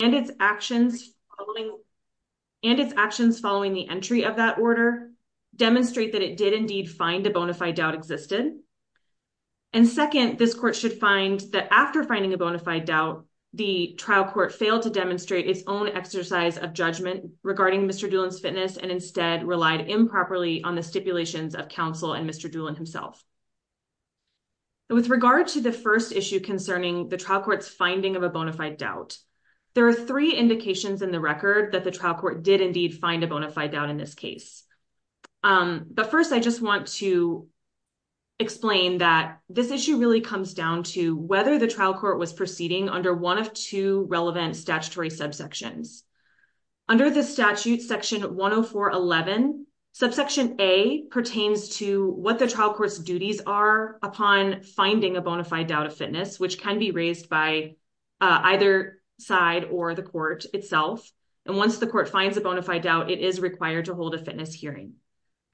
and its actions following the entry of that order, demonstrate that it did indeed find a bona fide doubt existed, and second, this Court should find that after finding a bona fide doubt, the trial court failed to demonstrate its own exercise of judgment regarding Mr. Doolin's fitness and instead relied improperly on the stipulations of counsel and Mr. Doolin himself. With regard to the first issue concerning the trial court's finding of a bona fide doubt, three indications in the record that the trial court did indeed find a bona fide doubt in this case. But first I just want to explain that this issue really comes down to whether the trial court was proceeding under one of two relevant statutory subsections. Under the statute section 10411, subsection A pertains to what the trial court's duties are upon finding a bona fide doubt of fitness, which can be raised by either side or the court itself. And once the court finds a bona fide doubt, it is required to hold a fitness hearing.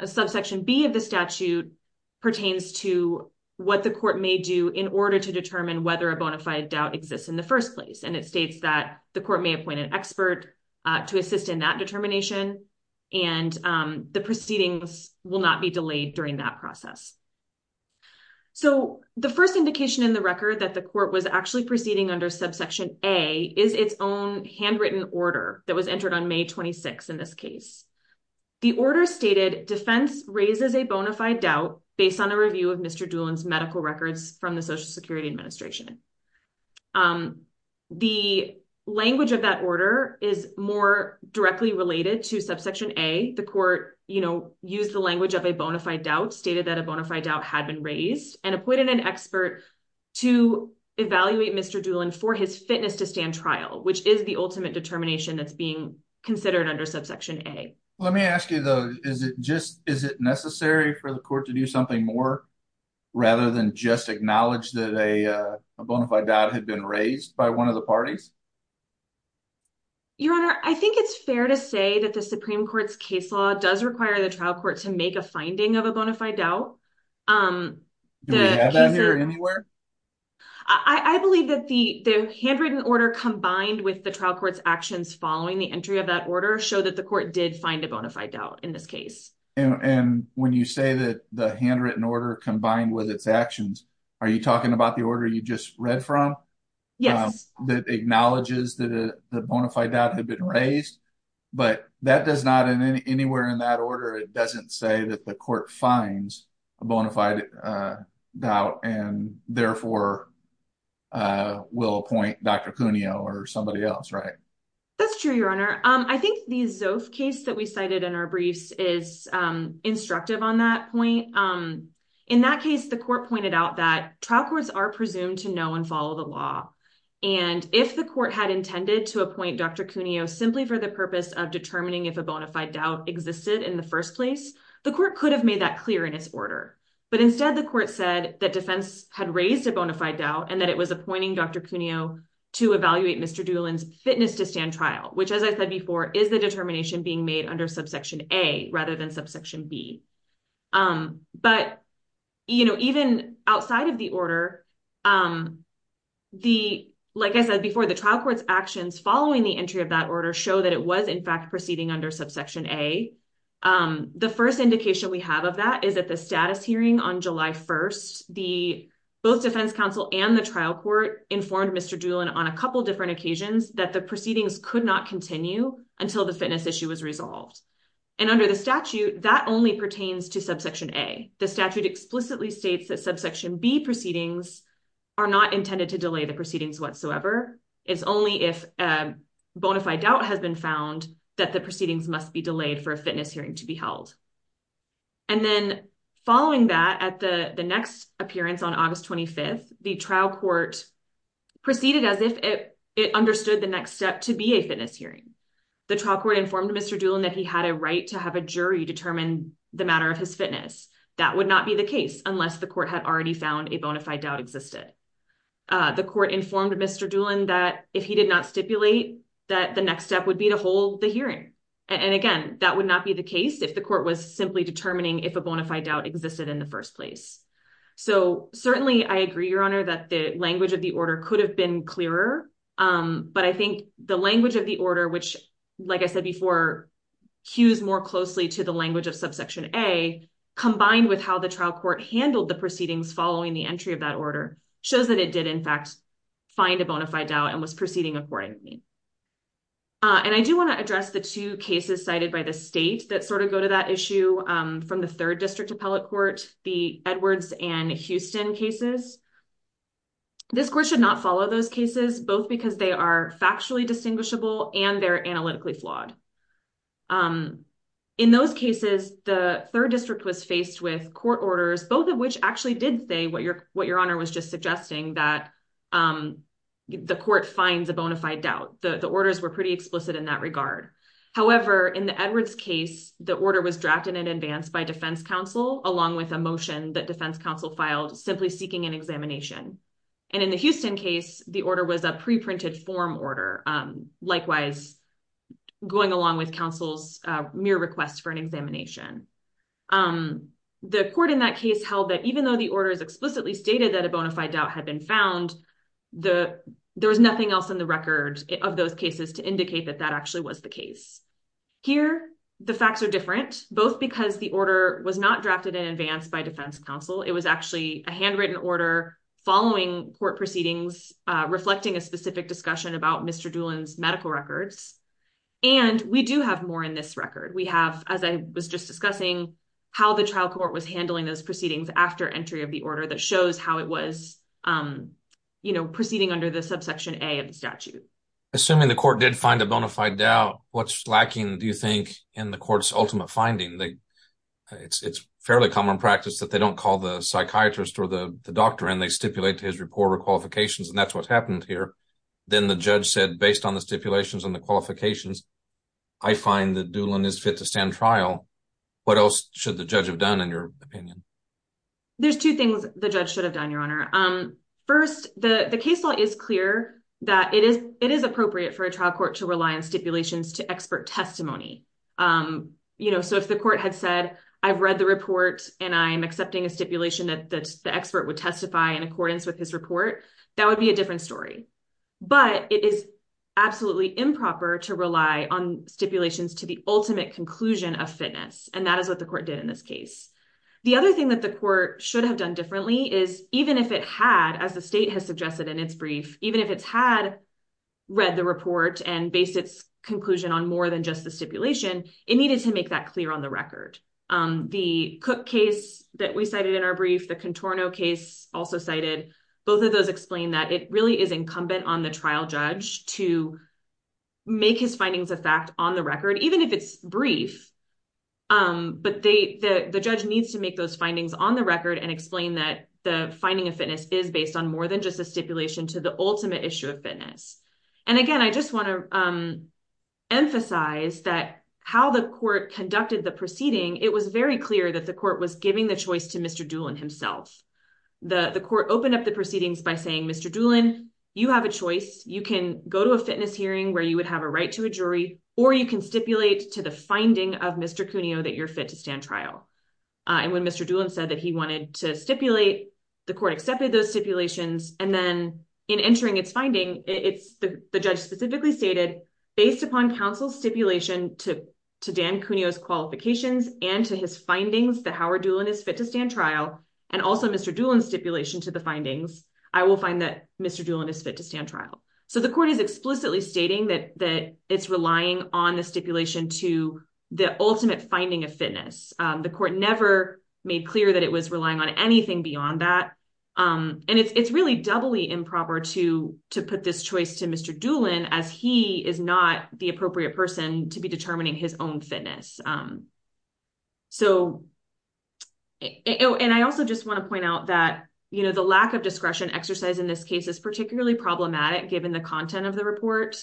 Subsection B of the statute pertains to what the court may do in order to determine whether a bona fide doubt exists in the first place. And it states that the court may appoint an expert to assist in that determination, and the proceedings will not be delayed during that process. So the first indication in the record that the court was actually proceeding under subsection A is its own handwritten order that was entered on May 26 in this case. The order stated defense raises a bona fide doubt based on a review of Mr. Doolin's medical records from the Social Security Administration. The language of that order is more directly related to subsection A. The court used the language of a bona fide doubt, stated that a bona fide doubt had been raised, and appointed an expert to evaluate Mr. Doolin for his fitness to stand trial, which is the ultimate determination that's being considered under subsection A. Let me ask you, though, is it necessary for the court to do something more rather than just acknowledge that a bona fide doubt had been raised by one of the parties? Your Honor, I think it's fair to say that the Supreme Court's case law does require the trial court to make a finding of a bona fide doubt. Do we have that here anywhere? I believe that the handwritten order combined with the trial court's actions following the entry of that order show that the court did find a bona fide doubt in this case. And when you say that the handwritten order combined with its actions, are you talking about the order you just read from? Yes. That acknowledges that the bona fide doubt had been raised, but that does not in anywhere in that order. It doesn't say that the court finds a bona fide doubt and therefore will appoint Dr. Cuneo or somebody else, right? That's true, Your Honor. I think the Zof case that we cited in our briefs is instructive on that point. In that case, the court pointed out that trial courts are to appoint Dr. Cuneo simply for the purpose of determining if a bona fide doubt existed in the first place. The court could have made that clear in its order, but instead the court said that defense had raised a bona fide doubt and that it was appointing Dr. Cuneo to evaluate Mr. Doolin's fitness to stand trial, which as I said before, is the determination being made under subsection A rather than subsection B. But even outside of the order, like I said before, the trial court's actions following the entry of that order show that it was in fact proceeding under subsection A. The first indication we have of that is that the status hearing on July 1st, the both defense counsel and the trial court informed Mr. Doolin on a couple different occasions that the proceedings could not continue until the fitness issue was resolved. And under the statute, that only pertains to subsection A. The statute explicitly states that subsection B is only if a bona fide doubt has been found that the proceedings must be delayed for a fitness hearing to be held. And then following that, at the next appearance on August 25th, the trial court proceeded as if it understood the next step to be a fitness hearing. The trial court informed Mr. Doolin that he had a right to have a jury determine the matter of his fitness. That would not be the case unless the court had already found a bona fide doubt existed. The court informed Mr. Doolin that if he did not stipulate that the next step would be to hold the hearing. And again, that would not be the case if the court was simply determining if a bona fide doubt existed in the first place. So certainly I agree, Your Honor, that the language of the order could have been clearer. But I think the language of the order, which, like I said before, cues more closely to the language of subsection A combined with how the trial court handled the proceedings following the entry of that order, shows that it did, in fact, find a bona fide doubt and was proceeding accordingly. And I do want to address the two cases cited by the state that sort of go to that issue from the third district appellate court, the Edwards and Houston cases. This court should not follow those cases, both because they are factually distinguishable and they're analytically flawed. In those cases, the third district was faced with court orders, both of which actually did what Your Honor was just suggesting, that the court finds a bona fide doubt. The orders were pretty explicit in that regard. However, in the Edwards case, the order was drafted in advance by defense counsel along with a motion that defense counsel filed simply seeking an examination. And in the Houston case, the order was a pre-printed form order, likewise going along with counsel's mere request for an examination. The court in that case held that even though the court's explicitly stated that a bona fide doubt had been found, there was nothing else in the record of those cases to indicate that that actually was the case. Here, the facts are different, both because the order was not drafted in advance by defense counsel. It was actually a handwritten order following court proceedings, reflecting a specific discussion about Mr. Doolin's medical records. And we do have more in this record. We have, as I was just discussing, how the trial court was handling those proceedings after entry of the order that shows how it was proceeding under the subsection A of the statute. Assuming the court did find a bona fide doubt, what's lacking, do you think, in the court's ultimate finding? It's fairly common practice that they don't call the psychiatrist or the doctor and they stipulate his report or qualifications, and that's what's happened here. Then the judge said, based on the stipulations and the judge's findings, what else should the judge have done, in your opinion? There's two things the judge should have done, Your Honor. First, the case law is clear that it is appropriate for a trial court to rely on stipulations to expert testimony. So if the court had said, I've read the report and I'm accepting a stipulation that the expert would testify in accordance with his report, that would be a different story. But it is absolutely improper to rely on stipulations to the ultimate conclusion of fitness, and that is what the court did in this case. The other thing that the court should have done differently is, even if it had, as the state has suggested in its brief, even if it's had read the report and based its conclusion on more than just the stipulation, it needed to make that clear on the record. The Cook case that we cited in our brief, the Contorno case also cited, both of those explain that it really is make his findings of fact on the record, even if it's brief. But the judge needs to make those findings on the record and explain that the finding of fitness is based on more than just a stipulation to the ultimate issue of fitness. And again, I just want to emphasize that how the court conducted the proceeding, it was very clear that the court was giving the choice to Mr. Doolin himself. The court opened up the proceedings by saying, Mr. Doolin, you have a choice. You can go to a fitness hearing where you would have a right to a jury, or you can stipulate to the finding of Mr. Cuneo that you're fit to stand trial. And when Mr. Doolin said that he wanted to stipulate, the court accepted those stipulations. And then in entering its finding, the judge specifically stated, based upon counsel's stipulation to Dan Cuneo's qualifications and to his findings that Howard Doolin is fit to stand trial, and also Mr. Doolin's stipulation to the stating that it's relying on the stipulation to the ultimate finding of fitness. The court never made clear that it was relying on anything beyond that. And it's really doubly improper to put this choice to Mr. Doolin as he is not the appropriate person to be determining his own fitness. And I also just want to point out that the lack of discretion exercise in this case is problematic given the content of the report.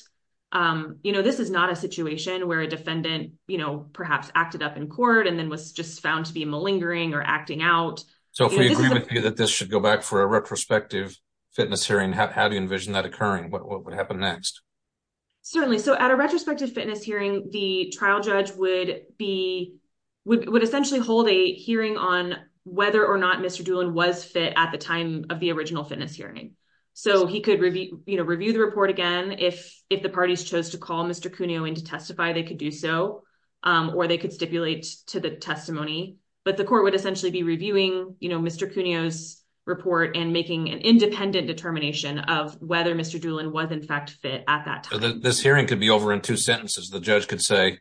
This is not a situation where a defendant perhaps acted up in court and then was just found to be malingering or acting out. So if we agree with you that this should go back for a retrospective fitness hearing, how do you envision that occurring? What would happen next? Certainly. So at a retrospective fitness hearing, the trial judge would essentially hold a hearing on whether or not Mr. Doolin was fit at the time of the original fitness hearing. So he could review the report again. If the parties chose to call Mr. Cuneo in to testify, they could do so, or they could stipulate to the testimony. But the court would essentially be reviewing Mr. Cuneo's report and making an independent determination of whether Mr. Doolin was in fact fit at that time. This hearing could be over in two sentences. The judge could say,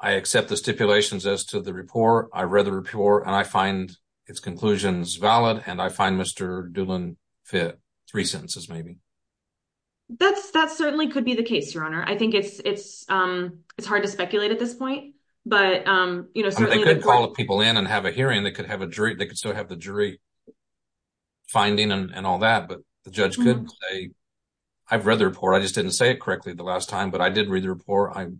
I accept the stipulations as to the report, I read the report, and I find its conclusions valid, and I find Mr. Doolin fit. Three sentences, maybe. That certainly could be the case, Your Honor. I think it's hard to speculate at this point. They could call people in and have a hearing. They could still have the jury finding and all that. But the judge could say, I've read the report. I just didn't say it at the time.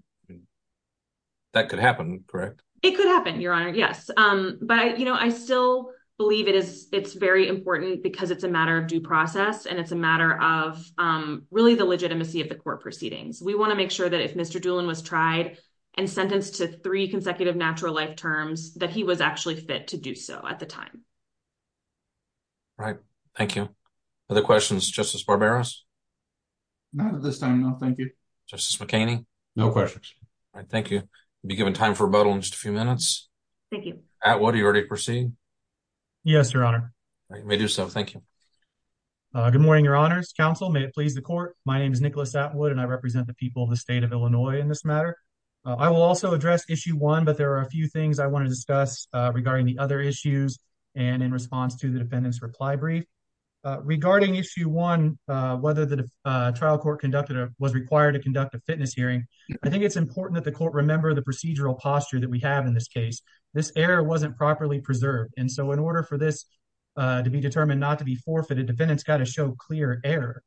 That could happen, correct? It could happen, Your Honor, yes. But I still believe it's very important because it's a matter of due process, and it's a matter of really the legitimacy of the court proceedings. We want to make sure that if Mr. Doolin was tried and sentenced to three consecutive natural life terms, that he was actually fit to do so at the time. Right. Thank you. Other questions? Justice Barberos? Not at this time, no, thank you. Justice McHaney? No questions. All right, thank you. We'll be given time for rebuttal in just a few minutes. Thank you. Atwood, do you already proceed? Yes, Your Honor. All right, you may do so. Thank you. Good morning, Your Honors. Counsel, may it please the court. My name is Nicholas Atwood, and I represent the people of the state of Illinois in this matter. I will also address Issue 1, but there are a few things I want to discuss regarding the other issues and in response to the defendant's reply brief. Regarding Issue 1, whether the trial court conducted it was required to conduct a fitness hearing. I think it's important that the court remember the procedural posture that we have in this case. This error wasn't properly preserved, and so in order for this to be determined not to be forfeited, defendants got to show clear error.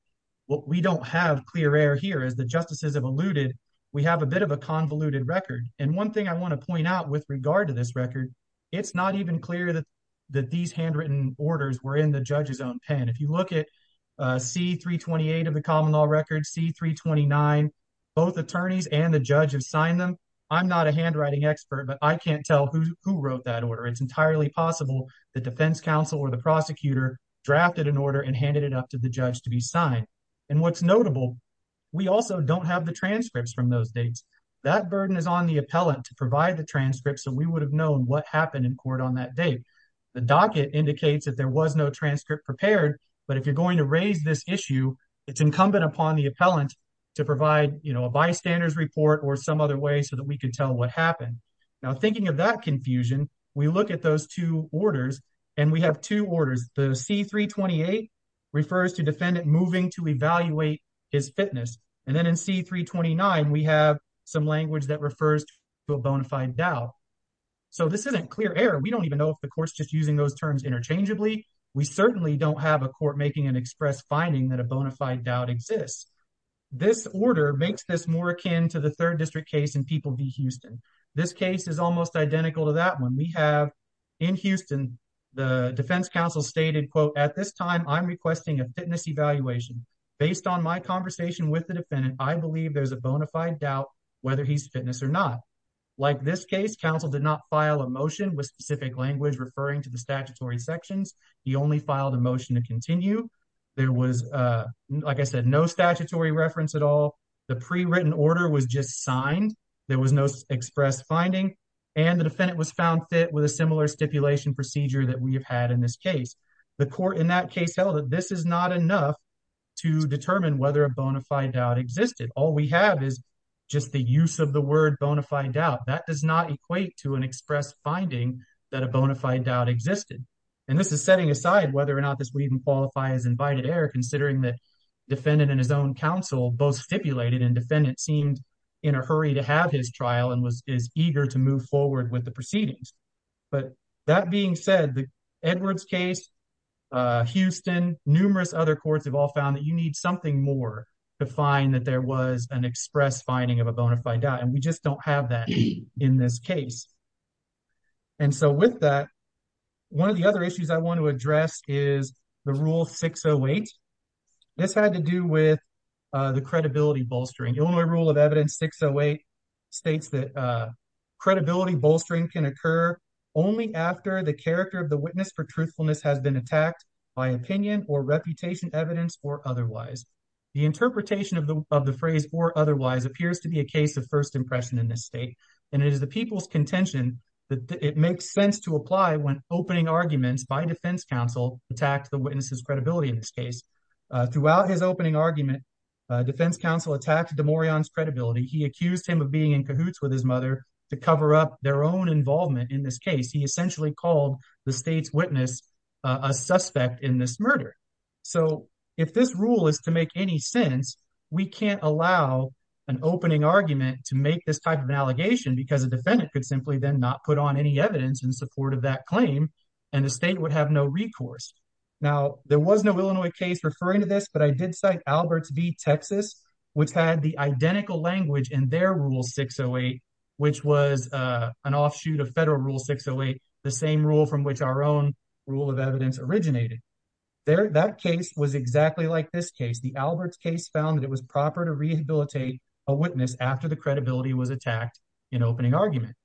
Well, we don't have clear error here. As the justices have alluded, we have a bit of a convoluted record, and one thing I want to point out with regard to this record, it's not even clear that these handwritten orders were in the judge's own pen. If you look at C-328 of the common law record, C-329, both attorneys and the judge have signed them. I'm not a handwriting expert, but I can't tell who wrote that order. It's entirely possible the defense counsel or the prosecutor drafted an order and handed it up to the judge to be signed. And what's notable, we also don't have the transcripts from those dates. That burden is on the appellant to provide the transcripts, so we would have known what happened in court on that date. The docket indicates that there was no transcript prepared, but if you're going to raise this issue, it's incumbent upon the appellant to provide a bystander's report or some other way so that we could tell what happened. Now, thinking of that confusion, we look at those two orders, and we have two orders. The C-328 refers to defendant moving to evaluate his fitness, and then in C-329, we have some language that so this isn't clear error. We don't even know if the court's just using those terms interchangeably. We certainly don't have a court making an express finding that a bona fide doubt exists. This order makes this more akin to the third district case in People v. Houston. This case is almost identical to that one. We have in Houston, the defense counsel stated, quote, at this time, I'm requesting a fitness evaluation. Based on my conversation with the defendant, I believe there's a bona fide doubt whether he's fitness or not. Like this case, counsel did not file a motion with specific language referring to the statutory sections. He only filed a motion to continue. There was, like I said, no statutory reference at all. The pre-written order was just signed. There was no express finding, and the defendant was found fit with a similar stipulation procedure that we have had in this case. The court in that case held that this is not enough to determine whether a bona fide doubt existed. All we have is just the use of the word bona fide doubt. That does not equate to an express finding that a bona fide doubt existed. And this is setting aside whether or not this would even qualify as invited error, considering that defendant and his own counsel both stipulated and defendant seemed in a hurry to have his trial and was eager to move forward with the proceedings. But that being said, the Edwards case, Houston, numerous other courts have all found that you need something more to find that there was an express finding of a bona fide doubt, and we just don't have that in this case. And so with that, one of the other issues I want to address is the Rule 608. This had to do with the credibility bolstering. Illinois Rule of Evidence 608 states that credibility bolstering can occur only after the character of the witness for The interpretation of the of the phrase for otherwise appears to be a case of first impression in this state, and it is the people's contention that it makes sense to apply when opening arguments by defense counsel attacked the witness's credibility in this case. Throughout his opening argument, defense counsel attacked DeMorian's credibility. He accused him of being in cahoots with his mother to cover up their own involvement in this case. He essentially called the state's witness a suspect in this murder. So if this rule is to make any sense, we can't allow an opening argument to make this type of allegation because a defendant could simply then not put on any evidence in support of that claim, and the state would have no recourse. Now, there was no Illinois case referring to this, but I did cite Alberts v. Texas, which had the identical language in their Rule 608, which was an offshoot of Federal Rule 608, the same rule from which our own rule of evidence originated. That case was exactly like this case. The Alberts case found that it was proper to rehabilitate a witness after the credibility was attacked in opening argument.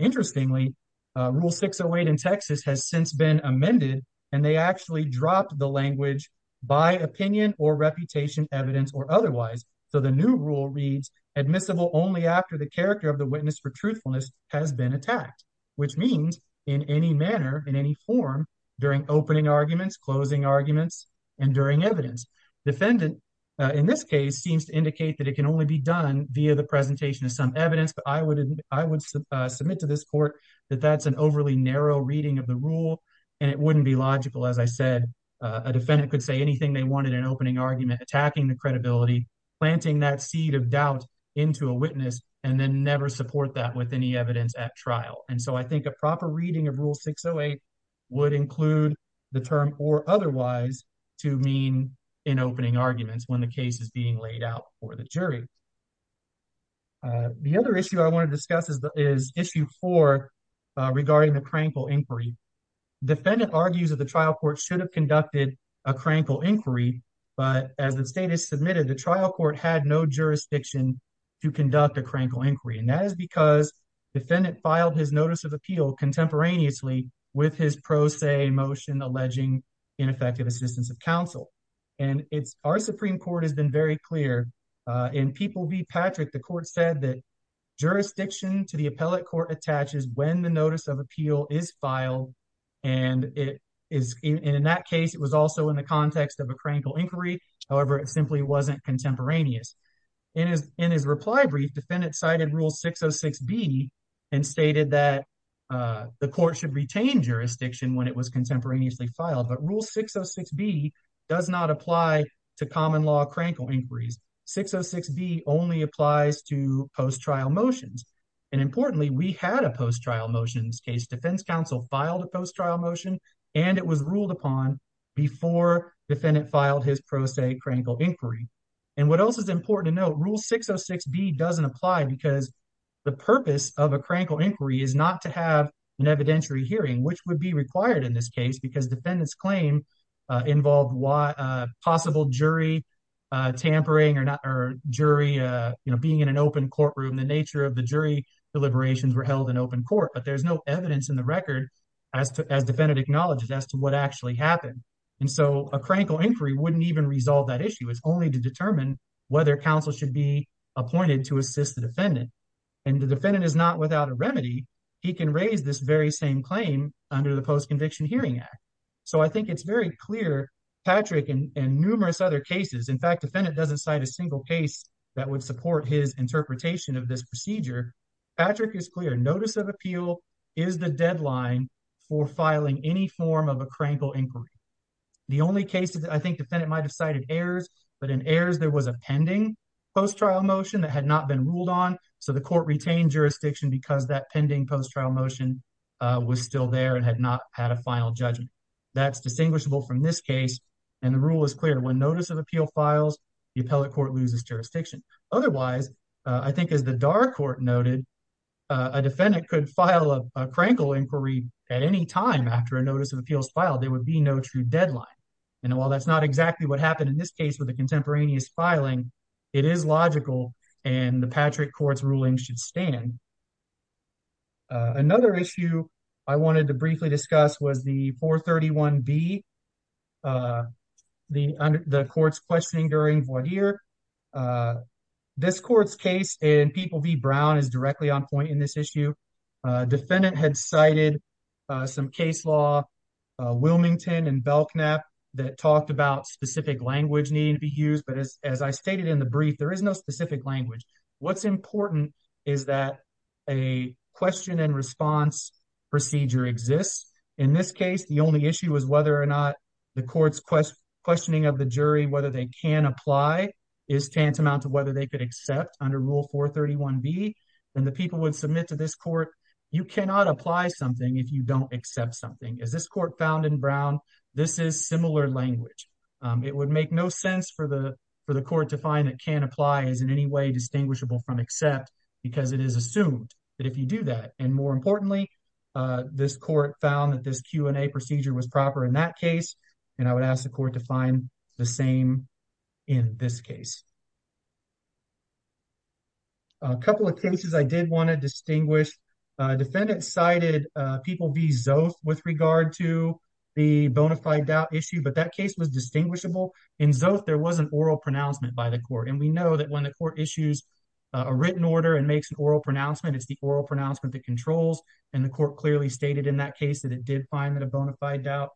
Interestingly, Rule 608 in Texas has since been amended, and they actually dropped the language by opinion or reputation, evidence or otherwise. So the new rule reads, admissible only after the character of the witness for truthfulness has been attacked, which means in any manner, in any form, during opening arguments, closing arguments, and during evidence. Defendant, in this case, seems to indicate that it can only be done via the presentation of some evidence, but I would submit to this court that that's an overly narrow reading of the rule, and it wouldn't be logical. As I said, a defendant could say anything they wanted in opening argument, attacking the credibility, planting that seed of doubt into a witness, and then never support that with any evidence at trial. And so I think a proper reading of Rule 608 would include the term or otherwise to mean in opening arguments when the case is being laid out for the jury. The other issue I want to discuss is Issue 4 regarding the crankle inquiry. Defendant argues that the trial court should have conducted a crankle inquiry, but as the state has submitted, the trial court had no jurisdiction to conduct a crankle inquiry, and that is because defendant filed his notice of appeal contemporaneously with his pro se motion alleging ineffective assistance of counsel. And our Supreme Court has been very clear. In People v. Patrick, the court said that jurisdiction to the appellate court attaches when the notice of appeal is filed, and in that case, it was also in the context of a crankle inquiry. However, it simply wasn't contemporaneous. In his reply brief, defendant cited Rule 606B and stated that the court should retain jurisdiction when it was contemporaneously filed. But Rule 606B does not apply to common law crankle inquiries. 606B only applies to post-trial motions. And importantly, we had a post-trial motion in this case. Defense counsel filed a post-trial motion, and it was ruled upon before defendant filed his pro se crankle inquiry. And what else is important to note, Rule 606B doesn't apply because the purpose of a crankle inquiry is not to have an evidentiary hearing, which would be required in this case because defendant's claim involved a possible jury tampering or jury being in an open courtroom. The nature of the jury deliberations were held in open court, but there's no evidence in the record as defendant acknowledged as to what actually happened. And so a crankle inquiry wouldn't even resolve that issue. It's only to determine whether counsel should be appointed to assist the defendant. And the defendant is not without a remedy. He can raise this very same claim under the Post-Conviction Hearing Act. So I think it's very clear, Patrick and numerous other cases, in fact, defendant doesn't cite a single case that would support his interpretation of this procedure. Patrick is clear. Notice of appeal is the deadline for filing any form of a crankle inquiry. The only cases I think defendant might have cited errors, but in errors, there was a pending post-trial motion that had not been ruled on. So the court retained jurisdiction because that pending post-trial motion was still there and had not had a final judgment. That's distinguishable from this case. And the rule is clear. When notice of appeal files, the appellate court loses jurisdiction. Otherwise, I think as the Dar Court noted, a defendant could file a crankle inquiry at any time after a notice of appeals filed, there would be no true deadline. And while that's not exactly what happened in this case with the contemporaneous filing, it is logical and the another issue I wanted to briefly discuss was the 431B, the court's questioning during voir dire. This court's case in People v. Brown is directly on point in this issue. Defendant had cited some case law, Wilmington and Belknap, that talked about specific language needing to be used. But as I stated in the brief, there is no specific language. What's important is that a question and response procedure exists. In this case, the only issue is whether or not the court's questioning of the jury whether they can apply is tantamount to whether they could accept under Rule 431B. And the people would submit to this court, you cannot apply something if you don't accept something. As this court found in Brown, this is similar language. It would make no sense for the court to find that can apply is in any way distinguishable from accept because it is assumed that if you do that, and more importantly, this court found that this Q&A procedure was proper in that case. And I would ask the court to find the same in this case. A couple of cases I did want to distinguish. Defendant cited People v. Zoth with regard to the bona fide doubt issue, but that case was distinguishable. In Zoth, there was an oral pronouncement by the court. And we know that when the court issues a written order and makes an oral pronouncement, it's the oral pronouncement that controls. And the court clearly stated in that case that it did find that a bona fide doubt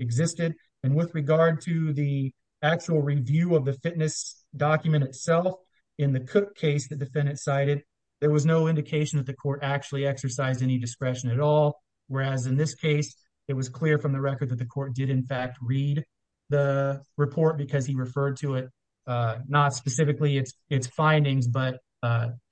existed. And with regard to the actual review of the fitness document itself, in the Cook case, the defendant cited, there was no indication that court actually exercised any discretion at all. Whereas in this case, it was clear from the record that the court did in fact read the report because he referred to it, not specifically its findings, but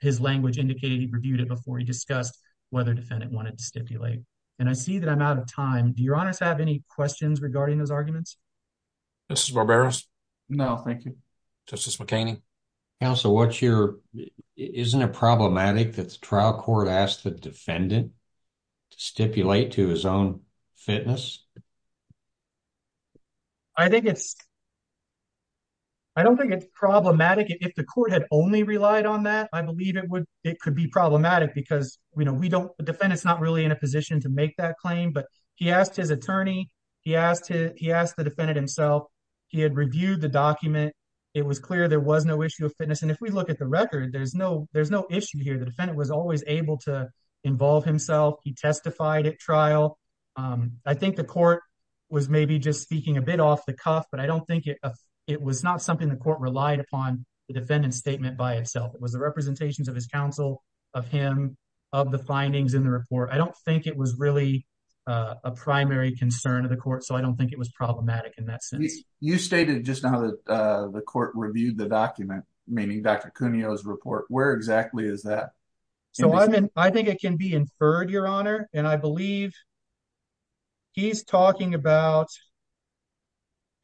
his language indicated he reviewed it before he discussed whether defendant wanted to stipulate. And I see that I'm out of time. Do your honors have any questions regarding those arguments? This is barbarous. No, thank you. Justice McKinney. Counsel, isn't it problematic that the trial court asked the defendant to stipulate to his own fitness? I don't think it's problematic. If the court had only relied on that, I believe it could be problematic because the defendant's not really in a position to make that claim. But he asked his attorney, he asked the defendant himself, he had reviewed the document. It was clear there was no issue of fitness. And if we look at the record, there's no issue here. The defendant was always able to involve himself. He testified at trial. I think the court was maybe just speaking a bit off the cuff, but I don't think it was not something the court relied upon the defendant's statement by itself. It was the representations of his counsel, of him, of the findings in the report. I don't think it was really a primary concern of the court to review the document, meaning Dr. Cuneo's report. Where exactly is that? I think it can be inferred, Your Honor. And I believe he's talking about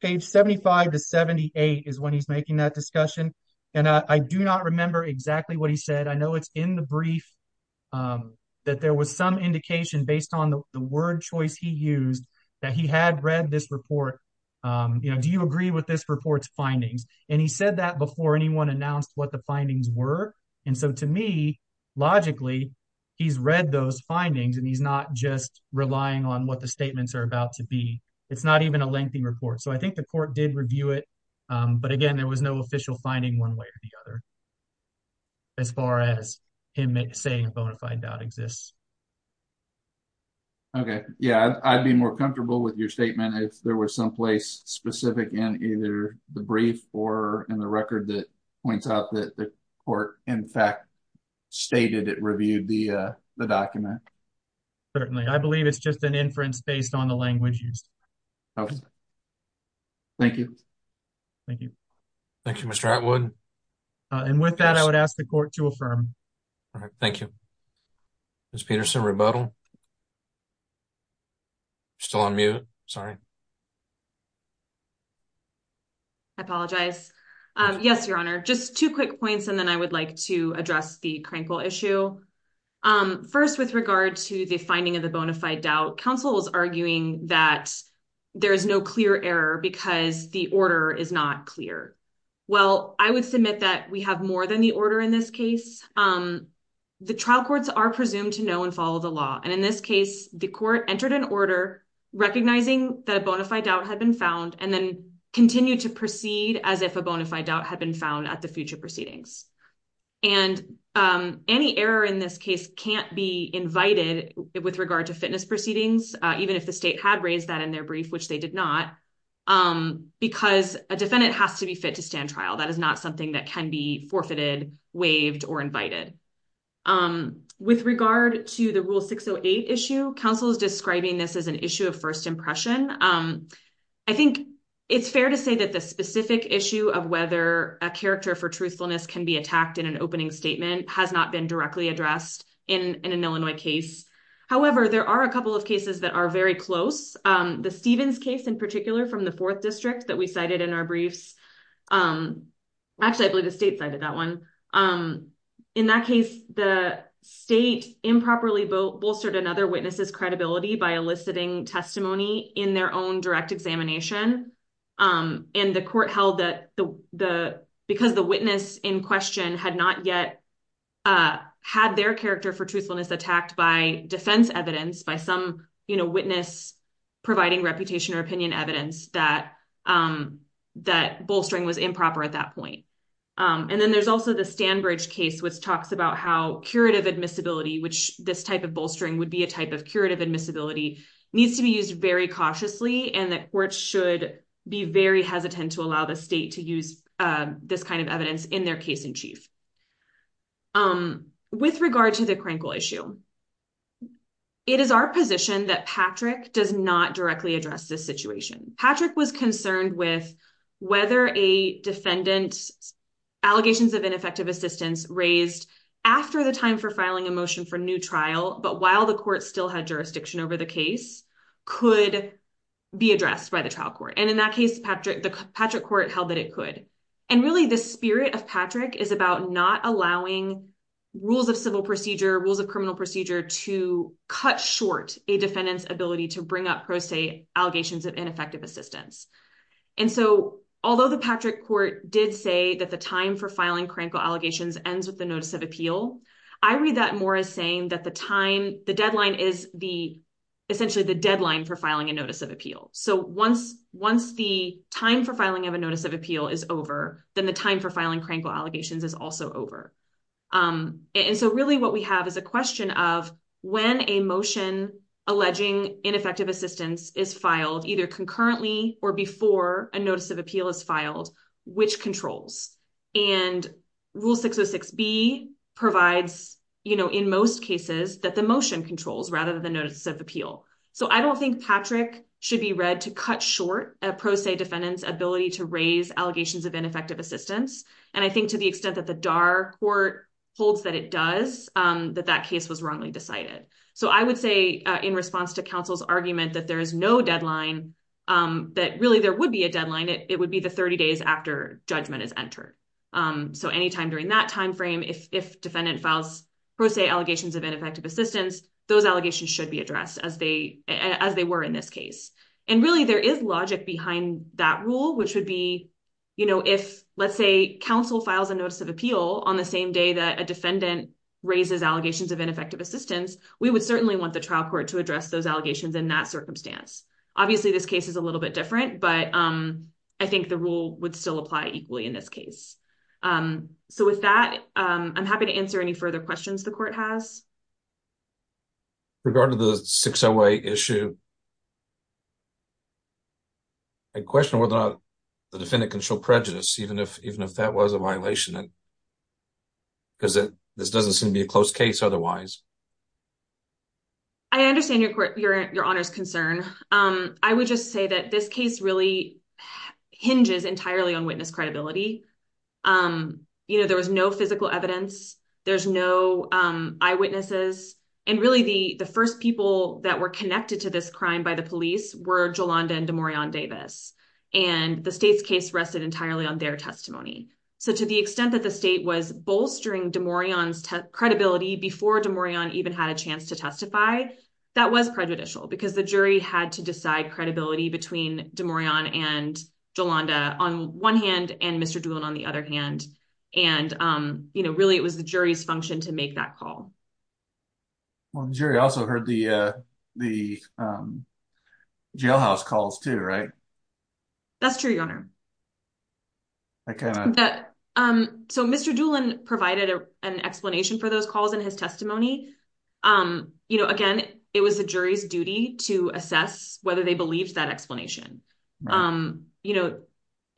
page 75 to 78 is when he's making that discussion. And I do not remember exactly what he said. I know it's in the brief that there was some indication based on the word choice he used that he had read this report. Do you agree with this report's findings? And he said that before anyone announced what the findings were. And so to me, logically, he's read those findings and he's not just relying on what the statements are about to be. It's not even a lengthy report. So I think the court did review it. But again, there was no official finding one way or the other as far as him saying a bona fide doubt exists. Okay. Yeah, I'd be more comfortable with your statement if there was someplace specific in either the brief or in the record that points out that the court, in fact, stated it reviewed the document. Certainly. I believe it's just an inference based on the language used. Okay. Thank you. Thank you. Thank you, Mr. Atwood. And with that, I would ask the court to affirm. All right. Thank you. Ms. Peterson, rebuttal. Still on mute. Sorry. I apologize. Yes, Your Honor. Just two quick points. And then I would like to address the crankle issue. First, with regard to the finding of the bona fide doubt, counsel was arguing that there is no clear error because the order is not clear. Well, I would submit that we have more than the order in this case. The trial courts are presumed to know and follow the law. And in this case, the court entered an order recognizing that a bona fide doubt had been found and then continued to proceed as if a bona fide doubt had been found at the future proceedings. And any error in this case can't be invited with regard to fitness proceedings, even if the state had raised that in their brief, which they did not, because a defendant has to be fit to stand waived or invited. With regard to the Rule 608 issue, counsel is describing this as an issue of first impression. I think it's fair to say that the specific issue of whether a character for truthfulness can be attacked in an opening statement has not been directly addressed in an Illinois case. However, there are a couple of cases that are very close. The Stevens case, in particular, from the 4th District that we cited in our briefs. Actually, I believe the one in that case, the state improperly bolstered another witness's credibility by eliciting testimony in their own direct examination. And the court held that because the witness in question had not yet had their character for truthfulness attacked by defense evidence, by some witness providing reputation or opinion evidence, that bolstering was improper at that point. And then there's also the Stanbridge case, which talks about how curative admissibility, which this type of bolstering would be a type of curative admissibility, needs to be used very cautiously and that courts should be very hesitant to allow the state to use this kind of evidence in their case in chief. With regard to the Krenkel issue, it is our position that Patrick does not directly address this situation. Patrick was concerned with whether a defendant's allegations of ineffective assistance raised after the time for filing a motion for new trial, but while the court still had jurisdiction over the case, could be addressed by the trial court. And in that case, the Patrick court held that it could. And really, the spirit of Patrick is about not allowing rules of civil procedure, rules of criminal procedure to cut short a defendant's ability to bring up, pro se, allegations of ineffective assistance. And so although the Patrick court did say that the time for filing Krenkel allegations ends with the notice of appeal, I read that more as saying that the deadline is essentially the deadline for filing a notice of appeal. So once the time for filing of a notice of appeal is over, then the time for filing Krenkel allegations is also over. And so really what we have is a question of when a motion alleging ineffective assistance is filed, either concurrently or before a notice of appeal is filed, which controls. And Rule 606B provides, in most cases, that the motion controls rather than the notice of appeal. So I don't think Patrick should be read to cut short a pro se defendant's ability to raise allegations of ineffective assistance. And I think to the extent that the DARR court holds that it does, that that case was wrongly decided. So I would say in response to counsel's argument that there is no deadline, that really there would be a deadline, it would be the 30 days after judgment is entered. So anytime during that time frame, if defendant files pro se allegations of ineffective assistance, those allegations should be addressed as they were in this case. And really, there is logic behind that rule, which would be if, let's say, counsel files a notice of appeal on the same day that a defendant raises allegations of ineffective assistance, we would certainly want the trial court to address those allegations in that circumstance. Obviously, this case is a little bit different, but I think the rule would still apply equally in this case. So with that, I'm happy to answer any further questions the court has. With regard to the 608 issue, I question whether or not the defendant can show prejudice, even if that was a violation, because this doesn't seem to be a close case otherwise. I understand your Honor's concern. I would just say that this case really hinges entirely on witness credibility. You know, there was no physical evidence, there's no eyewitnesses. And really, the first people that were connected to this crime by the police were Jolanda and DeMoran Davis. And the state's case rested entirely on their testimony. So to the extent that the state was bolstering DeMoran's credibility before DeMoran even had a chance to testify, that was prejudicial because the jury had to decide credibility between DeMoran and Jolanda on one hand and Mr. Doolin on the other hand. And really, it was the jury's function to make that call. Well, the jury also heard the jailhouse calls too, right? That's true, Your Honor. So Mr. Doolin provided an explanation for those calls in his testimony. Again, it was the jury's duty to assess whether they believed that explanation. You know,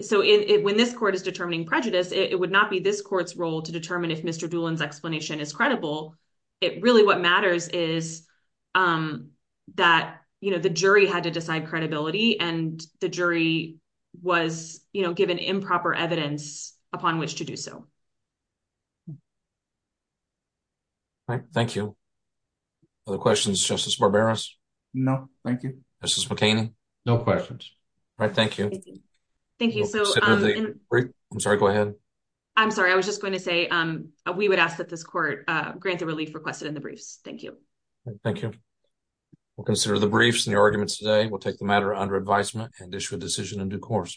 so when this court is determining prejudice, it would not be this court's role to determine if Mr. Doolin's explanation is credible. Really, what matters is that, you know, the jury had to decide credibility and the jury was, you know, given improper evidence upon which to do so. All right, thank you. Other questions, Justice Barberos? No, thank you. Justice McCaney? No questions. All right, thank you. I'm sorry, go ahead. I'm sorry, I was just going to say we would ask that this court grant the relief requested in the briefs. Thank you. Thank you. We'll consider the briefs and the arguments today. We'll take the matter under advisement and issue a decision in due course.